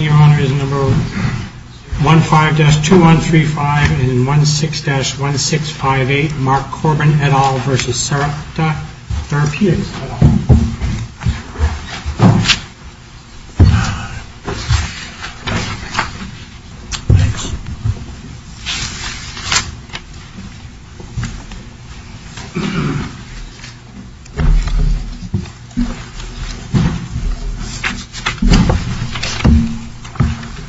Your Honor is number 15-2135 and 16-1658 Mark Corban, et al. v. Sarepta Therapeutics, et al.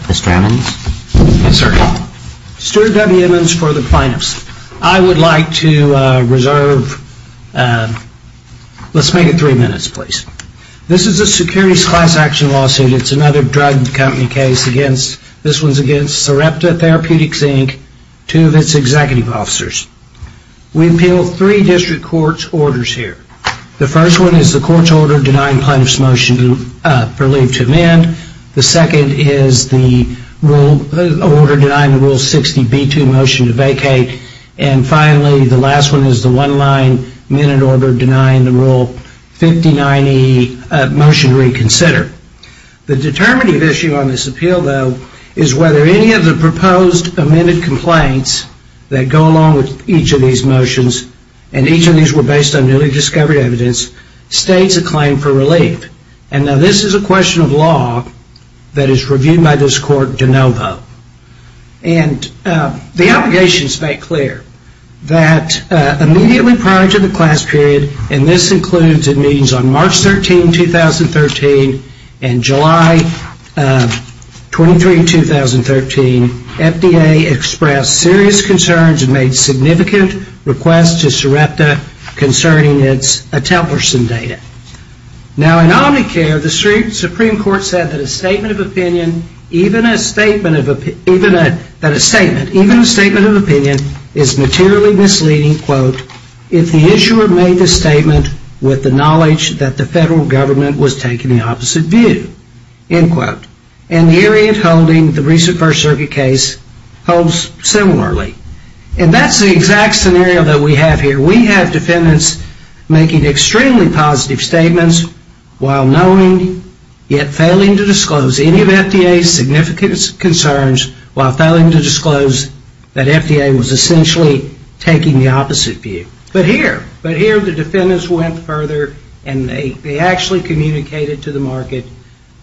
Mr. Emmons? Yes, sir. Steward W. Emmons for the plaintiffs. I would like to reserve, let's make it three minutes, please. This is a securities class action lawsuit. It's another drug company case. This one's against Sarepta Therapeutics, Inc., two of its executive officers. We appeal three district court's orders here. The first one is the court's order denying plaintiff's motion for leave to amend. The second is the order denying the Rule 60B2 motion to vacate. And finally, the last one is the one-line minute order denying the Rule 5090 motion to reconsider. The determinative issue on this appeal, though, is whether any of the proposed amended complaints that go along with each of these motions, and each of these were based on newly discovered evidence, states a claim for relief. And now this is a question of law that is reviewed by this court de novo. And the allegations make clear that immediately prior to the class period, and this includes the meetings on March 13, 2013, and July 23, 2013, FDA expressed serious concerns and made significant requests to Sarepta concerning its Atemperson data. Now in Omnicare, the Supreme Court said that a statement of opinion is materially misleading if the issuer made the statement with the knowledge that the federal government was taking the opposite view. And the area it's holding, the recent First Circuit case, holds similarly. And that's the exact scenario that we have here. We have defendants making extremely positive statements while knowing, yet failing to disclose, any of FDA's significant concerns while failing to disclose that FDA was essentially taking the opposite view. But here, the defendants went further and they actually communicated to the market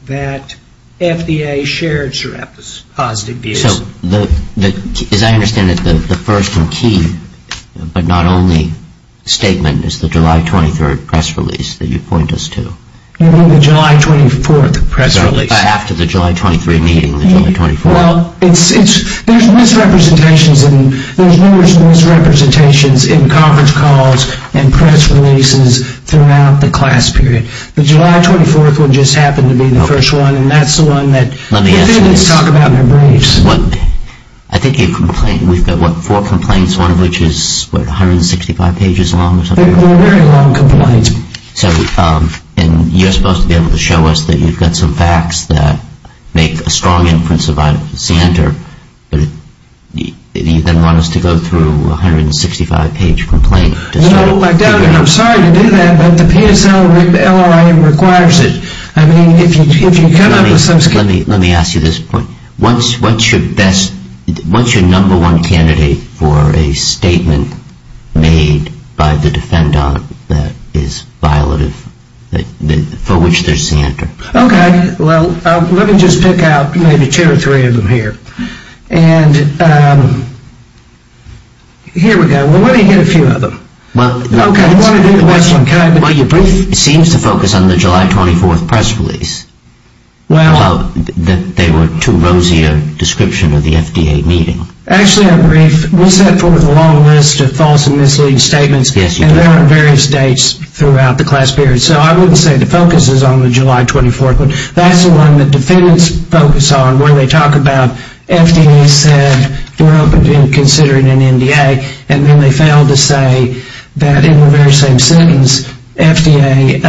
that FDA shared Sarepta's positive views. So as I understand it, the first and key, but not only, statement is the July 23 press release that you point us to. You mean the July 24 press release. After the July 23 meeting, the July 24. Well, there's misrepresentations and there's numerous misrepresentations in conference calls and press releases throughout the class period. The July 24th one just happened to be the first one, and that's the one that defendants talk about in their briefs. Let me ask you this. I think you've complained. We've got, what, four complaints, one of which is, what, 165 pages long or something? They're very long complaints. So, and you're supposed to be able to show us that you've got some facts that make a strong inference about Center, but you then want us to go through a 165-page complaint. Well, I doubt it. I'm sorry to do that, but the PSO, the LRI requires it. I mean, if you come up with some... Let me ask you this point. What's your best, what's your number one candidate for a statement made by the defendant that is violative, for which there's Center? Okay. Well, let me just pick out maybe two or three of them here. And here we go. Well, let me get a few of them. Okay. Well, your brief seems to focus on the July 24th press release about they were too rosy a description of the FDA meeting. Actually, our brief, we set forth a long list of false and misleading statements. Yes, you did. And they're on various dates throughout the class period. So I wouldn't say the focus is on the July 24th one. That's the one the defendants focus on where they talk about FDA said they're open to considering an NDA, and then they fail to say that in the very same sentence, FDA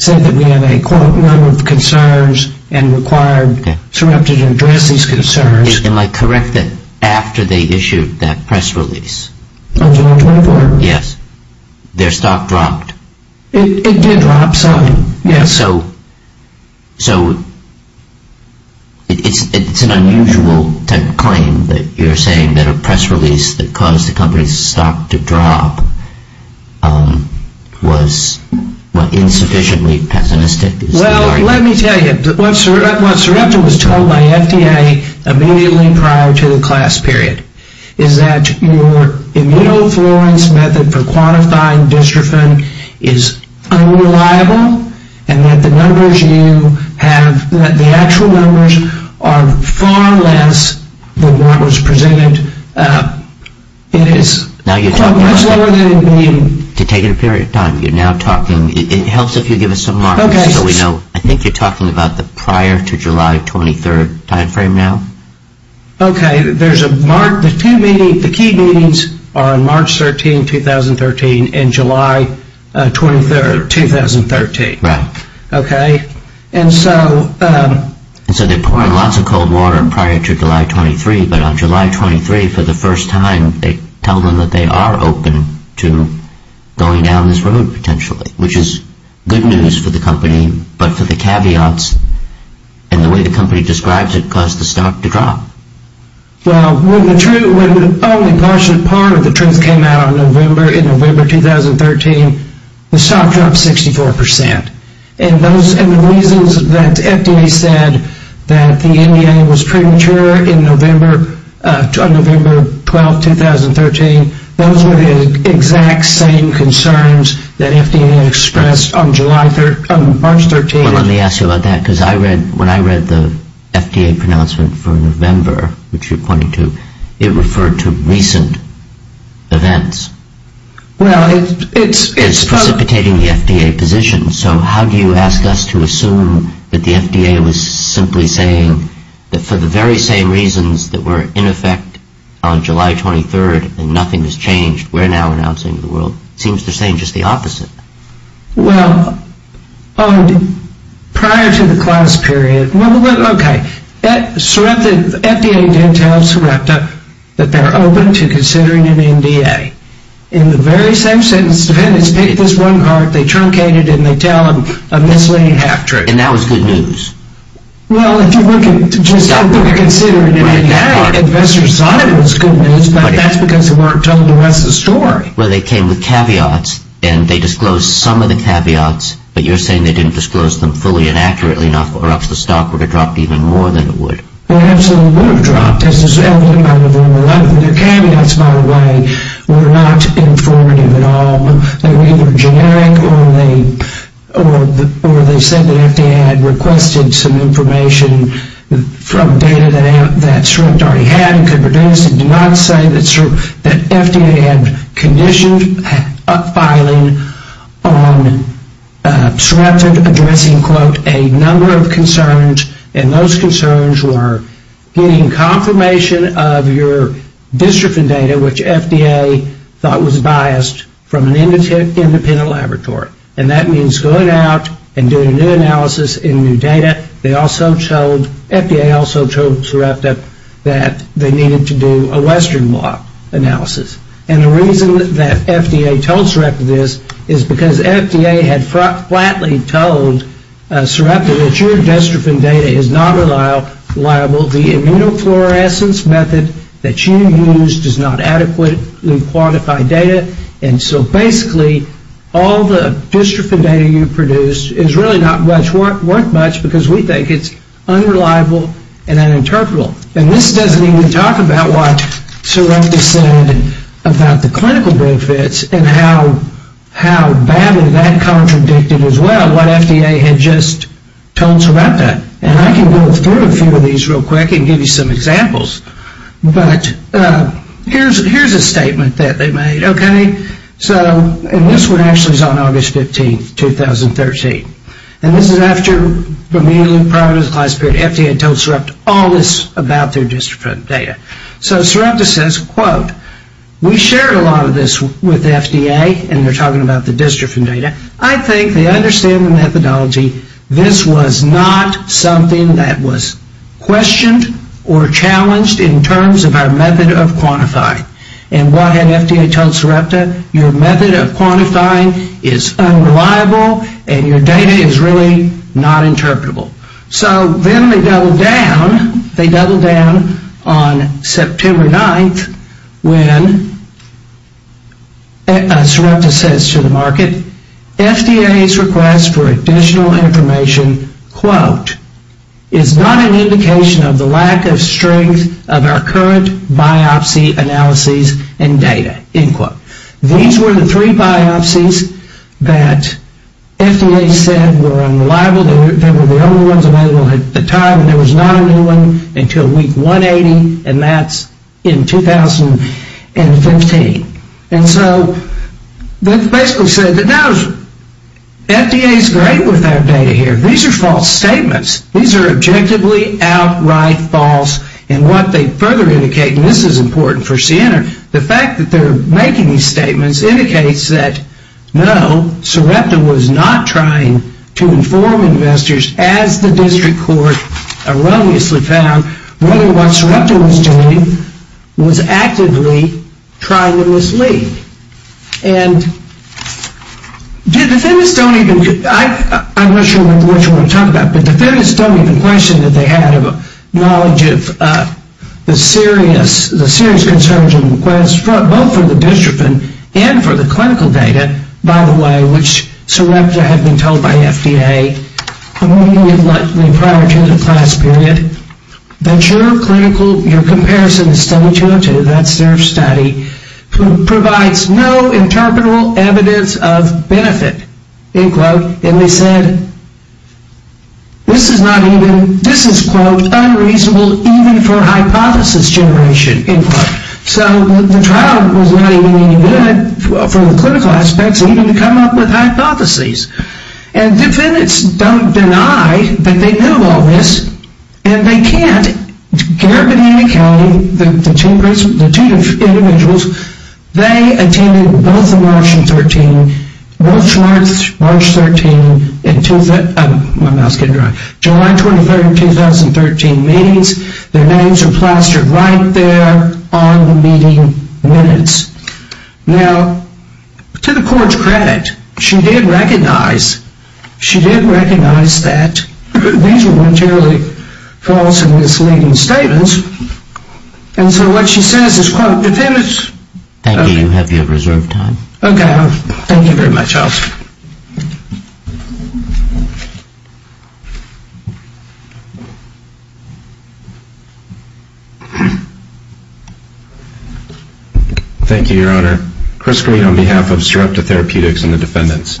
said that we have a, quote, number of concerns and required surreptitiously address these concerns. Am I correct that after they issued that press release? On July 24th? Yes. Their stock dropped. It did drop slightly, yes. So it's an unusual type of claim that you're saying that a press release that caused the company's stock to drop was insufficiently pessimistic. Well, let me tell you. What Sarepta was told by FDA immediately prior to the class period is that your immunofluorescence method for quantifying dystrophin is unreliable, and that the numbers you have, the actual numbers, are far less than what was presented. It is much lower than the... To take a period of time. You're now talking. It helps if you give us some markers so we know. I think you're talking about the prior to July 23rd time frame now. Okay. The key meetings are on March 13, 2013 and July 23rd, 2013. Right. Okay? And so... And so they poured lots of cold water prior to July 23, but on July 23, for the first time, they tell them that they are open to going down this road potentially, which is good news for the company, but for the caveats and the way the company describes it caused the stock to drop. Well, when the only partial part of the truth came out in November 2013, the stock dropped 64%. And the reasons that FDA said that the NDA was premature on November 12, 2013, those were the exact same concerns that FDA expressed on March 13. Well, let me ask you about that because when I read the FDA pronouncement for November, which you're pointing to, it referred to recent events. Well, it's... It's precipitating the FDA position, so how do you ask us to assume that the FDA was simply saying that for the very same reasons that were in effect on July 23rd and nothing has changed, we're now announcing to the world? It seems to say just the opposite. Well, prior to the class period, well, okay, the FDA didn't tell Sarepta that they're open to considering an NDA. In the very same sentence, the defendants take this one part, they truncate it, and they tell them a misleading half-truth. And that was good news? Well, if you look at just how they're considering an NDA, investors thought it was good news, but that's because they weren't told the rest of the story. Well, they came with caveats, and they disclosed some of the caveats, but you're saying they didn't disclose them fully and accurately enough, or else the stock would have dropped even more than it would. It absolutely would have dropped, as is evident by November 11. Their caveats, by the way, were not informative at all. They were either generic, or they said that FDA had requested some information from data that Sarepta already had and could produce, and did not say that FDA had conditioned up-filing on Sarepta addressing, quote, a number of concerns, and those concerns were getting confirmation of your district and data, which FDA thought was biased from an independent laboratory. And that means going out and doing new analysis in new data. They also told, FDA also told Sarepta that they needed to do a Western law analysis. And the reason that FDA told Sarepta this is because FDA had flatly told Sarepta that your destrophin data is not reliable. The immunofluorescence method that you use does not adequately quantify data, and so basically all the dystrophin data you produce is really not worth much because we think it's unreliable and uninterpretable. And this doesn't even talk about what Sarepta said about the clinical benefits and how badly that contradicted as well what FDA had just told Sarepta. And I can go through a few of these real quick and give you some examples. But here's a statement that they made, okay? So, and this one actually is on August 15th, 2013. And this is after the meeting prior to the class period. FDA had told Sarepta all this about their dystrophin data. So Sarepta says, quote, we shared a lot of this with FDA, and they're talking about the dystrophin data. And I think they understand the methodology. This was not something that was questioned or challenged in terms of our method of quantifying. And what had FDA told Sarepta? Your method of quantifying is unreliable, and your data is really not interpretable. So then they doubled down. They doubled down on September 9th when Sarepta says to the market, FDA's request for additional information, quote, is not an indication of the lack of strength of our current biopsy analyses and data, end quote. These were the three biopsies that FDA said were unreliable and they were the only ones available at the time, and there was not a new one until week 180, and that's in 2015. And so they basically said that, no, FDA is great with our data here. These are false statements. These are objectively outright false. And what they further indicate, and this is important for CNR, the fact that they're making these statements indicates that, no, Sarepta was not trying to inform investors, as the district court erroneously found, whether what Sarepta was doing was actively trying to mislead. And defendants don't even, I'm not sure what you want to talk about, but defendants don't even question that they had a knowledge of the serious concerns both for the district court and for the clinical data, by the way, which Sarepta had been told by FDA prior to the class period, that your clinical, your comparison study 202, that's their study, provides no interpretable evidence of benefit, end quote, and they said, this is not even, this is, quote, unreasonable, even for hypothesis generation, end quote. So the trial was not even any good for the clinical aspects, even to come up with hypotheses. And defendants don't deny that they knew all this, and they can't. Garabedini County, the two individuals, they attended both the March 13th, both March 13th and, my mouth's getting dry, July 23rd, 2013 meetings. Their names are plastered right there on the meeting minutes. Now, to the court's credit, she did recognize, she did recognize that these were voluntarily false and misleading statements, and so what she says is, quote, defendants, Thank you, you have your reserved time. Okay, thank you very much. Thank you, Your Honor. Chris Green on behalf of Sarepta Therapeutics and the defendants.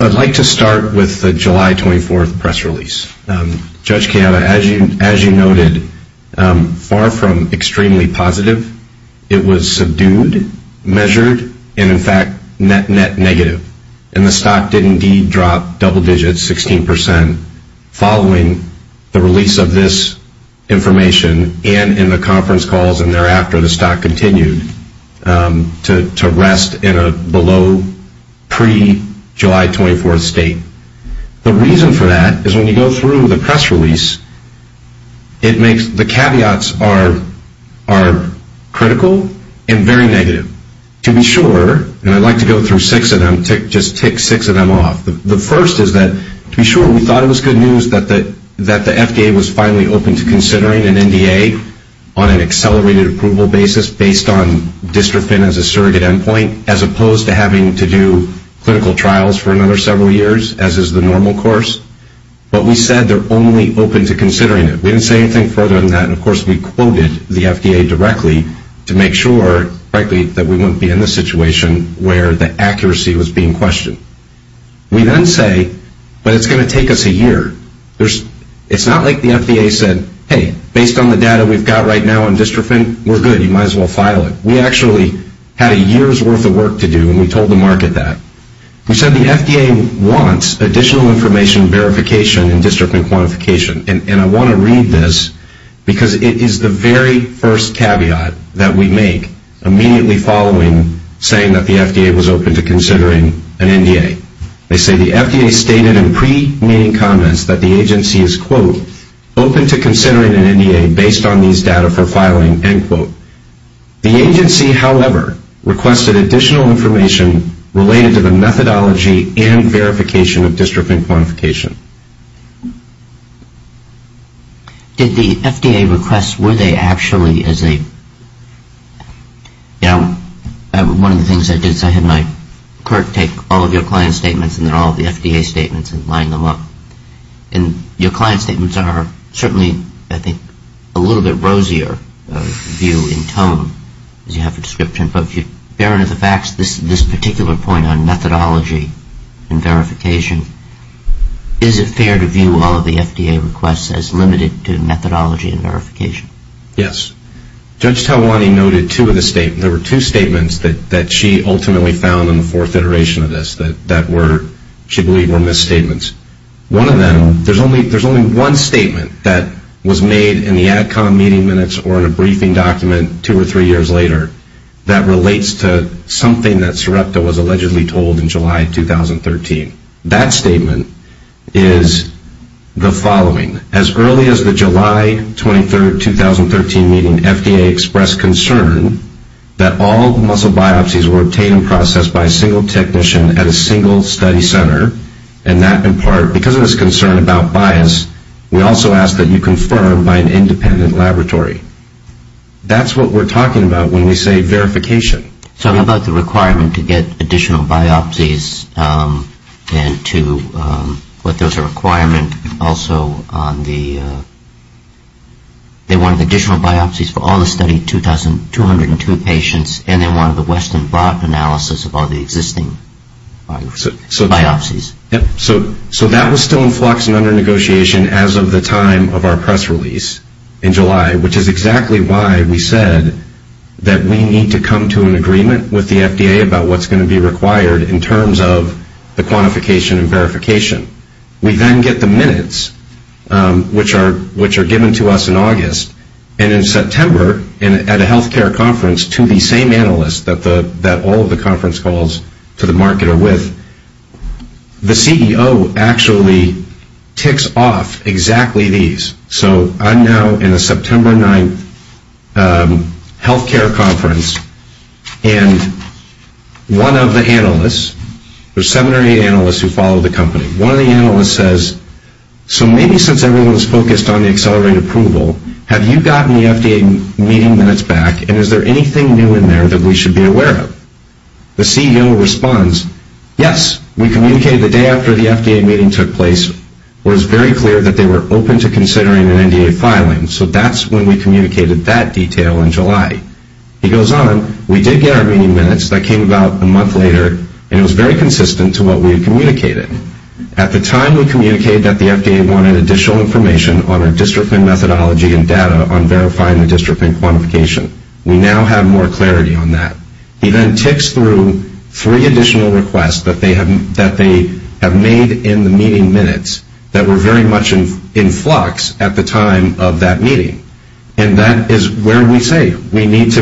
I'd like to start with the July 24th press release. Judge Kayaba, as you noted, far from extremely positive, it was subdued, measured, and, in fact, net, net negative. And the stock did indeed drop double digits, 16%, following the release of this information and in the conference calls and thereafter the stock continued to rest in a below pre-July 24th state. The reason for that is when you go through the press release, the caveats are critical and very negative. To be sure, and I'd like to go through six of them, just tick six of them off. The first is that, to be sure, we thought it was good news that the FDA was finally open to considering an NDA on an accelerated approval basis based on dystrophin as a surrogate endpoint, as opposed to having to do clinical trials for another several years, as is the normal course. But we said they're only open to considering it. We didn't say anything further than that, and, of course, we quoted the FDA directly to make sure, frankly, that we wouldn't be in the situation where the accuracy was being questioned. We then say, but it's going to take us a year. It's not like the FDA said, hey, based on the data we've got right now on dystrophin, we're good, you might as well file it. We actually had a year's worth of work to do, and we told the market that. We said the FDA wants additional information, verification, and dystrophin quantification, and I want to read this because it is the very first caveat that we make immediately following saying that the FDA was open to considering an NDA. They say the FDA stated in pre-meeting comments that the agency is, quote, open to considering an NDA based on these data for filing, end quote. The agency, however, requested additional information related to the methodology and verification of dystrophin quantification. Did the FDA request, were they actually as a, you know, one of the things I did is I had my clerk take all of your client statements and then all of the FDA statements and line them up, and your client statements are certainly, I think, a little bit rosier view in tone as you have the description, but if you bear into the facts this particular point on methodology and verification, is it fair to view all of the FDA requests as limited to methodology and verification? Yes. Judge Talwani noted two of the statements. There were two statements that she ultimately found in the fourth iteration of this that were, she believed, were misstatements. One of them, there's only one statement that was made in the ADCOM meeting minutes or in a briefing document two or three years later that relates to something that Sarepta was allegedly told in July 2013. That statement is the following. As early as the July 23, 2013 meeting, FDA expressed concern that all muscle biopsies were obtained and processed by a single technician at a single study center, and that in part, because of this concern about bias, we also ask that you confirm by an independent laboratory. That's what we're talking about when we say verification. So I'm about the requirement to get additional biopsies and to what there's a requirement also on the, they wanted additional biopsies for all the study 202 patients and they wanted the west and broad analysis of all the existing biopsies. So that was still in flux and under negotiation as of the time of our press release in July, which is exactly why we said that we need to come to an agreement with the FDA about what's going to be required in terms of the quantification and verification. We then get the minutes, which are given to us in August, and in September at a health care conference to the same analyst that all of the conference calls to the market are with, the CEO actually ticks off exactly these. So I'm now in a September 9th health care conference, and one of the analysts, there's seven or eight analysts who follow the company, one of the analysts says, so maybe since everyone's focused on the accelerated approval, have you gotten the FDA meeting minutes back and is there anything new in there that we should be aware of? The CEO responds, yes, we communicated the day after the FDA meeting took place where it was very clear that they were open to considering an NDA filing, so that's when we communicated that detail in July. He goes on, we did get our meeting minutes, that came about a month later, and it was very consistent to what we had communicated. At the time we communicated that the FDA wanted additional information on our district and methodology and data on verifying the district and quantification. We now have more clarity on that. He then ticks through three additional requests that they have made in the meeting minutes that were very much in flux at the time of that meeting, and that is where we say we need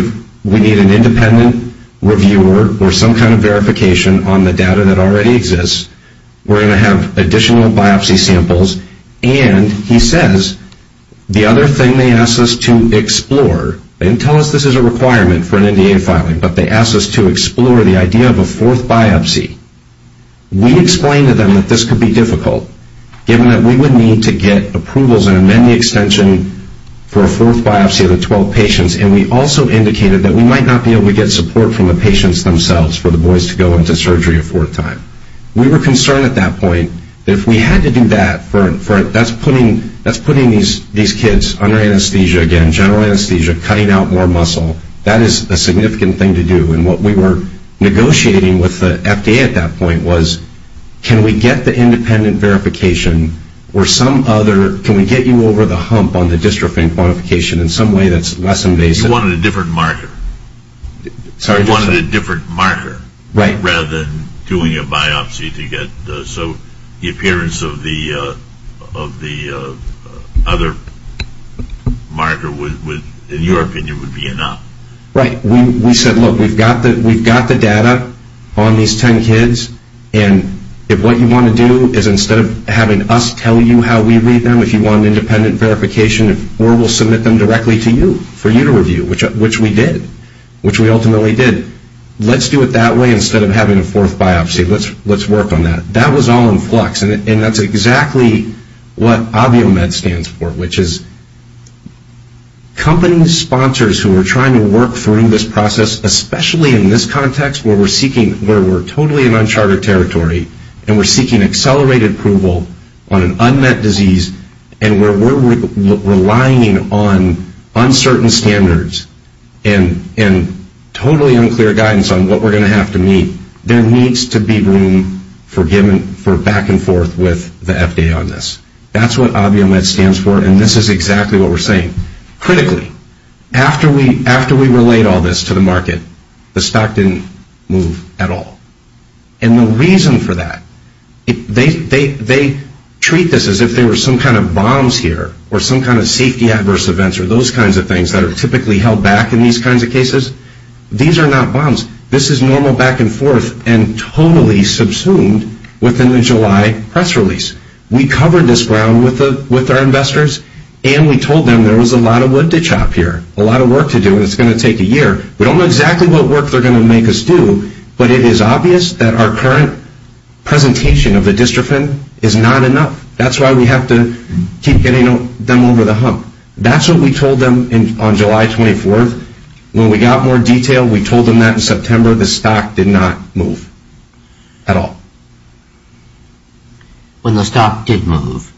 an independent reviewer or some kind of verification on the data that already exists. We're going to have additional biopsy samples, and he says the other thing they asked us to explore, they didn't tell us this is a requirement for an NDA filing, but they asked us to explore the idea of a fourth biopsy. We explained to them that this could be difficult, given that we would need to get approvals and amend the extension for a fourth biopsy of the 12 patients, and we also indicated that we might not be able to get support from the patients themselves for the boys to go into surgery a fourth time. We were concerned at that point that if we had to do that, that's putting these kids under anesthesia again, general anesthesia, cutting out more muscle. That is a significant thing to do, and what we were negotiating with the FDA at that point was, can we get the independent verification or some other, can we get you over the hump on the district and quantification in some way that's less invasive? You wanted a different marker. Sorry? You wanted a different marker rather than doing a biopsy to get the, so the appearance of the other marker would, in your opinion, would be enough. Right. We said, look, we've got the data on these 10 kids, and if what you want to do is instead of having us tell you how we read them, if you want an independent verification, or we'll submit them directly to you for you to review, which we did, which we ultimately did. Let's do it that way instead of having a fourth biopsy. Let's work on that. That was all in flux, and that's exactly what ObvioMed stands for, which is company sponsors who are trying to work through this process, especially in this context where we're seeking, where we're totally in uncharted territory and we're seeking accelerated approval on an unmet disease and we're relying on uncertain standards and totally unclear guidance on what we're going to have to meet, there needs to be room for back and forth with the FDA on this. That's what ObvioMed stands for, and this is exactly what we're saying. Critically, after we relayed all this to the market, the stock didn't move at all. And the reason for that, they treat this as if there were some kind of bombs here or some kind of safety adverse events or those kinds of things that are typically held back in these kinds of cases. These are not bombs. This is normal back and forth and totally subsumed within the July press release. We covered this ground with our investors, and we told them there was a lot of wood to chop here, a lot of work to do, and it's going to take a year. We don't know exactly what work they're going to make us do, but it is obvious that our current presentation of the dystrophin is not enough. That's why we have to keep getting them over the hump. That's what we told them on July 24th. When we got more detail, we told them that in September the stock did not move at all. When the stock did move,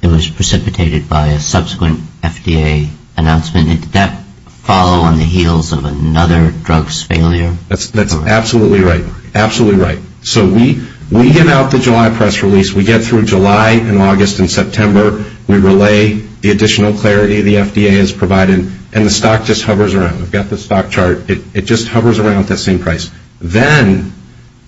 it was precipitated by a subsequent FDA announcement. Did that follow on the heels of another drugs failure? That's absolutely right. Absolutely right. So we give out the July press release. We get through July and August and September. We relay the additional clarity the FDA has provided, and the stock just hovers around. We've got the stock chart. It just hovers around at the same price. Then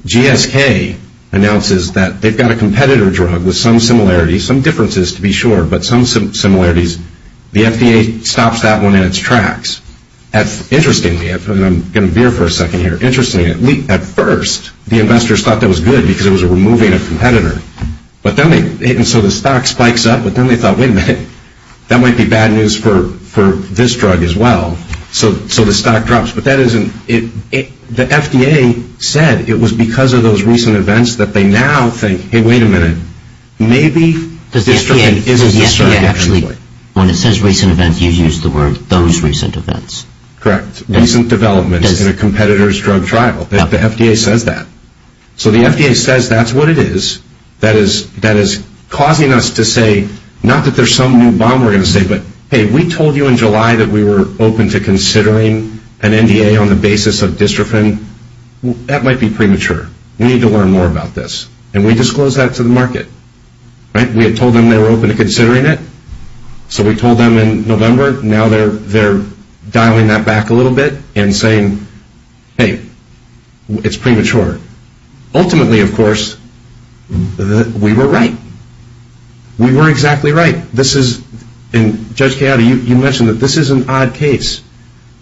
GSK announces that they've got a competitor drug with some similarities, some differences to be sure, but some similarities. The FDA stops that one in its tracks. Interestingly, and I'm going to veer for a second here, at first the investors thought that was good because it was removing a competitor. So the stock spikes up, but then they thought, wait a minute, that might be bad news for this drug as well. So the stock drops. But the FDA said it was because of those recent events that they now think, hey, wait a minute, maybe dystrophin isn't so good anyway. When it says recent events, you use the word those recent events. Correct. Recent developments in a competitor's drug trial. The FDA says that. So the FDA says that's what it is that is causing us to say, not that there's some new bomb we're going to say, but, hey, we told you in July that we were open to considering an NDA on the basis of dystrophin. That might be premature. We need to learn more about this. And we disclose that to the market. We had told them they were open to considering it. So we told them in November. Now they're dialing that back a little bit and saying, hey, it's premature. Ultimately, of course, we were right. We were exactly right. And, Judge Chiodo, you mentioned that this is an odd case.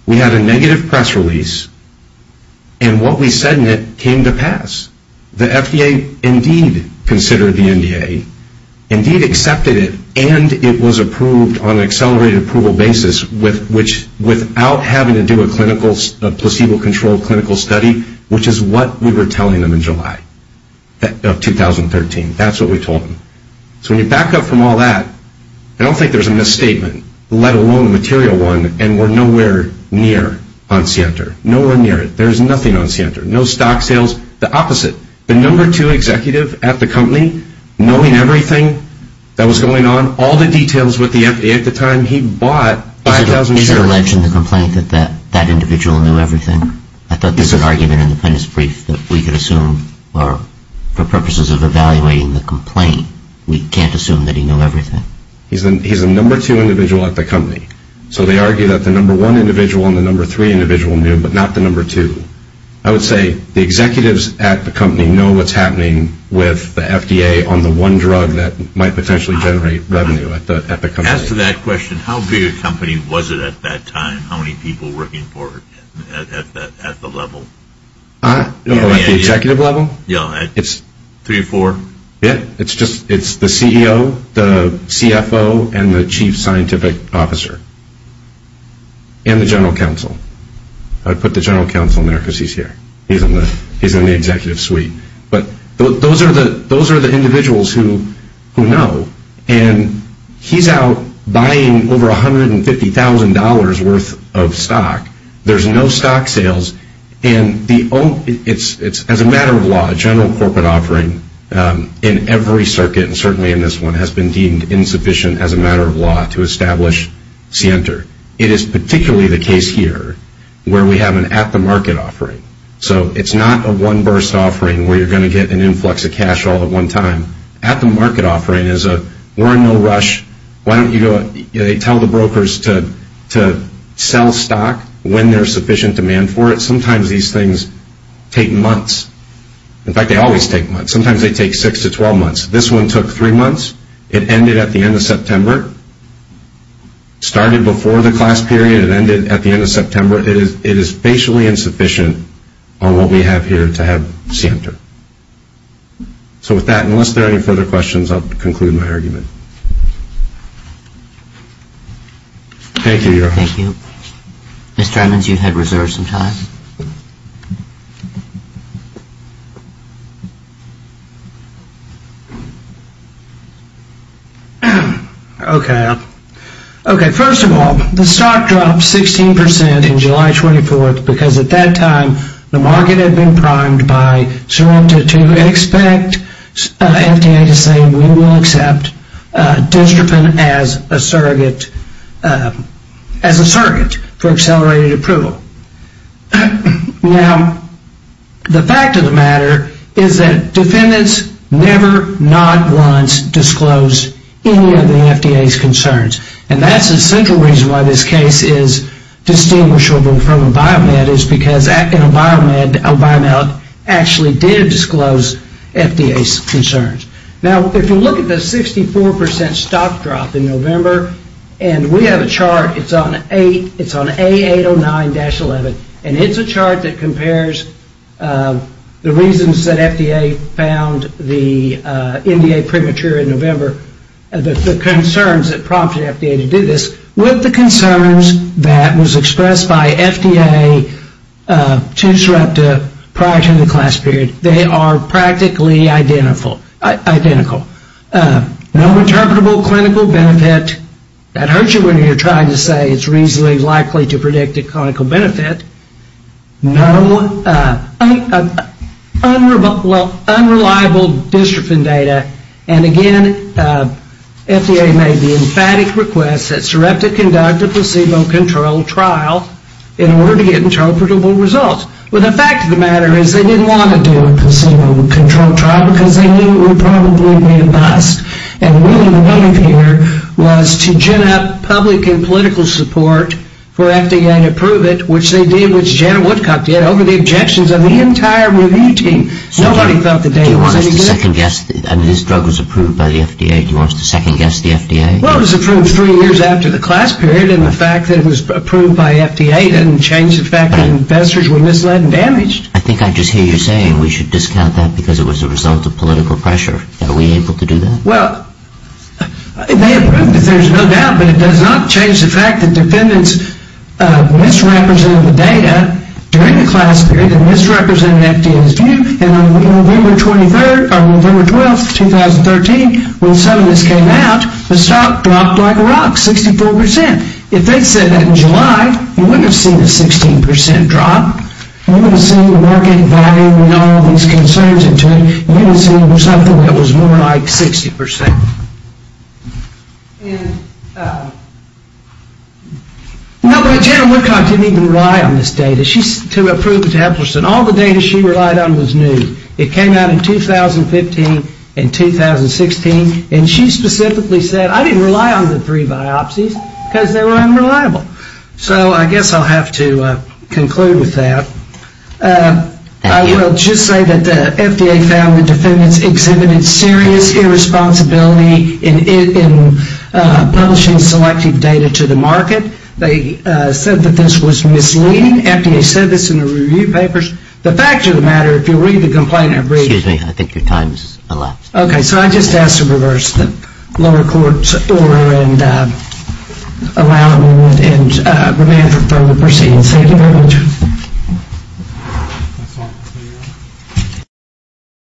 We had a negative press release, and what we said in it came to pass. The FDA indeed considered the NDA, indeed accepted it, and it was approved on an accelerated approval basis without having to do a placebo-controlled clinical study, which is what we were telling them in July of 2013. That's what we told them. So when you back up from all that, I don't think there's a misstatement, let alone a material one, and we're nowhere near on CNTR. Nowhere near it. There's nothing on CNTR. No stock sales. The opposite. The number two executive at the company, knowing everything that was going on, all the details with the FDA at the time, he bought 5,000 shares. Is it alleged in the complaint that that individual knew everything? I thought there was an argument in the appendix brief that we could assume, or for purposes of evaluating the complaint, we can't assume that he knew everything. He's the number two individual at the company. So they argue that the number one individual and the number three individual knew, but not the number two. I would say the executives at the company know what's happening with the FDA on the one drug that might potentially generate revenue at the company. As to that question, how big a company was it at that time? How many people were working for it at the level? At the executive level? Yeah. Three or four? Yeah. It's the CEO, the CFO, and the chief scientific officer. And the general counsel. I put the general counsel in there because he's here. He's in the executive suite. But those are the individuals who know. And he's out buying over $150,000 worth of stock. There's no stock sales. And it's as a matter of law, a general corporate offering in every circuit, and certainly in this one, has been deemed insufficient as a matter of law to establish scienter. It is particularly the case here where we have an at-the-market offering. So it's not a one-burst offering where you're going to get an influx of cash all at one time. At-the-market offering is a we're in no rush. They tell the brokers to sell stock when there's sufficient demand for it. Sometimes these things take months. In fact, they always take months. Sometimes they take six to 12 months. This one took three months. It ended at the end of September. It started before the class period and ended at the end of September. It is facially insufficient on what we have here to have scienter. So with that, unless there are any further questions, I'll conclude my argument. Thank you, Your Honor. Thank you. Mr. Edmonds, you had reserved some time. Okay. Okay, first of all, the stock dropped 16% in July 24th because at that time the market had been primed to expect FDA to say we will accept DistroPen as a surrogate for accelerated approval. Now, the fact of the matter is that defendants never, not once, disclosed any of the FDA's concerns. And that's the central reason why this case is distinguishable from a Biomed, is because a Biomed actually did disclose FDA's concerns. Now, if you look at the 64% stock drop in November, and we have a chart, it's on A809-11, and it's a chart that compares the reasons that FDA found the NDA premature in November, the concerns that prompted FDA to do this with the concerns that was expressed by FDA to Sarepta prior to the class period, they are practically identical. No interpretable clinical benefit. That hurts you when you're trying to say it's reasonably likely to predict a clinical benefit. No unreliable DistroPen data, and again, FDA made the emphatic request that Sarepta conduct a placebo-controlled trial in order to get interpretable results. Well, the fact of the matter is they didn't want to do a placebo-controlled trial, because they knew it would probably be a bust, and really the motive here was to gin up public and political support for FDA to approve it, which they did, which Janet Woodcock did, over the objections of the entire review team. Nobody thought the data was any good. Do you want us to second-guess that this drug was approved by the FDA? Do you want us to second-guess the FDA? Well, it was approved three years after the class period, and the fact that it was approved by FDA didn't change the fact that investors were misled and damaged. I think I just hear you saying we should discount that because it was a result of political pressure. Are we able to do that? Well, they approved it, there's no doubt, but it does not change the fact that defendants misrepresented the data during the class period and misrepresented FDA's view, and on November 12, 2013, when some of this came out, the stock dropped like a rock, 64%. If they'd said that in July, we wouldn't have seen a 16% drop. We wouldn't have seen the market value and all of these concerns, we would have seen something that was more like 60%. No, but Janet Woodcock didn't even rely on this data to approve the tablets, and all the data she relied on was new. It came out in 2015 and 2016, and she specifically said, I didn't rely on the three biopsies because they were unreliable. So I guess I'll have to conclude with that. I will just say that the FDA found the defendants exhibited serious irresponsibility in publishing selected data to the market. They said that this was misleading. FDA said this in the review papers. The fact of the matter, if you read the complaint, it reads- Excuse me, I think your time's elapsed. Okay, so I just ask to reverse the lower court's order and allow me to remain for further proceedings. Thank you very much.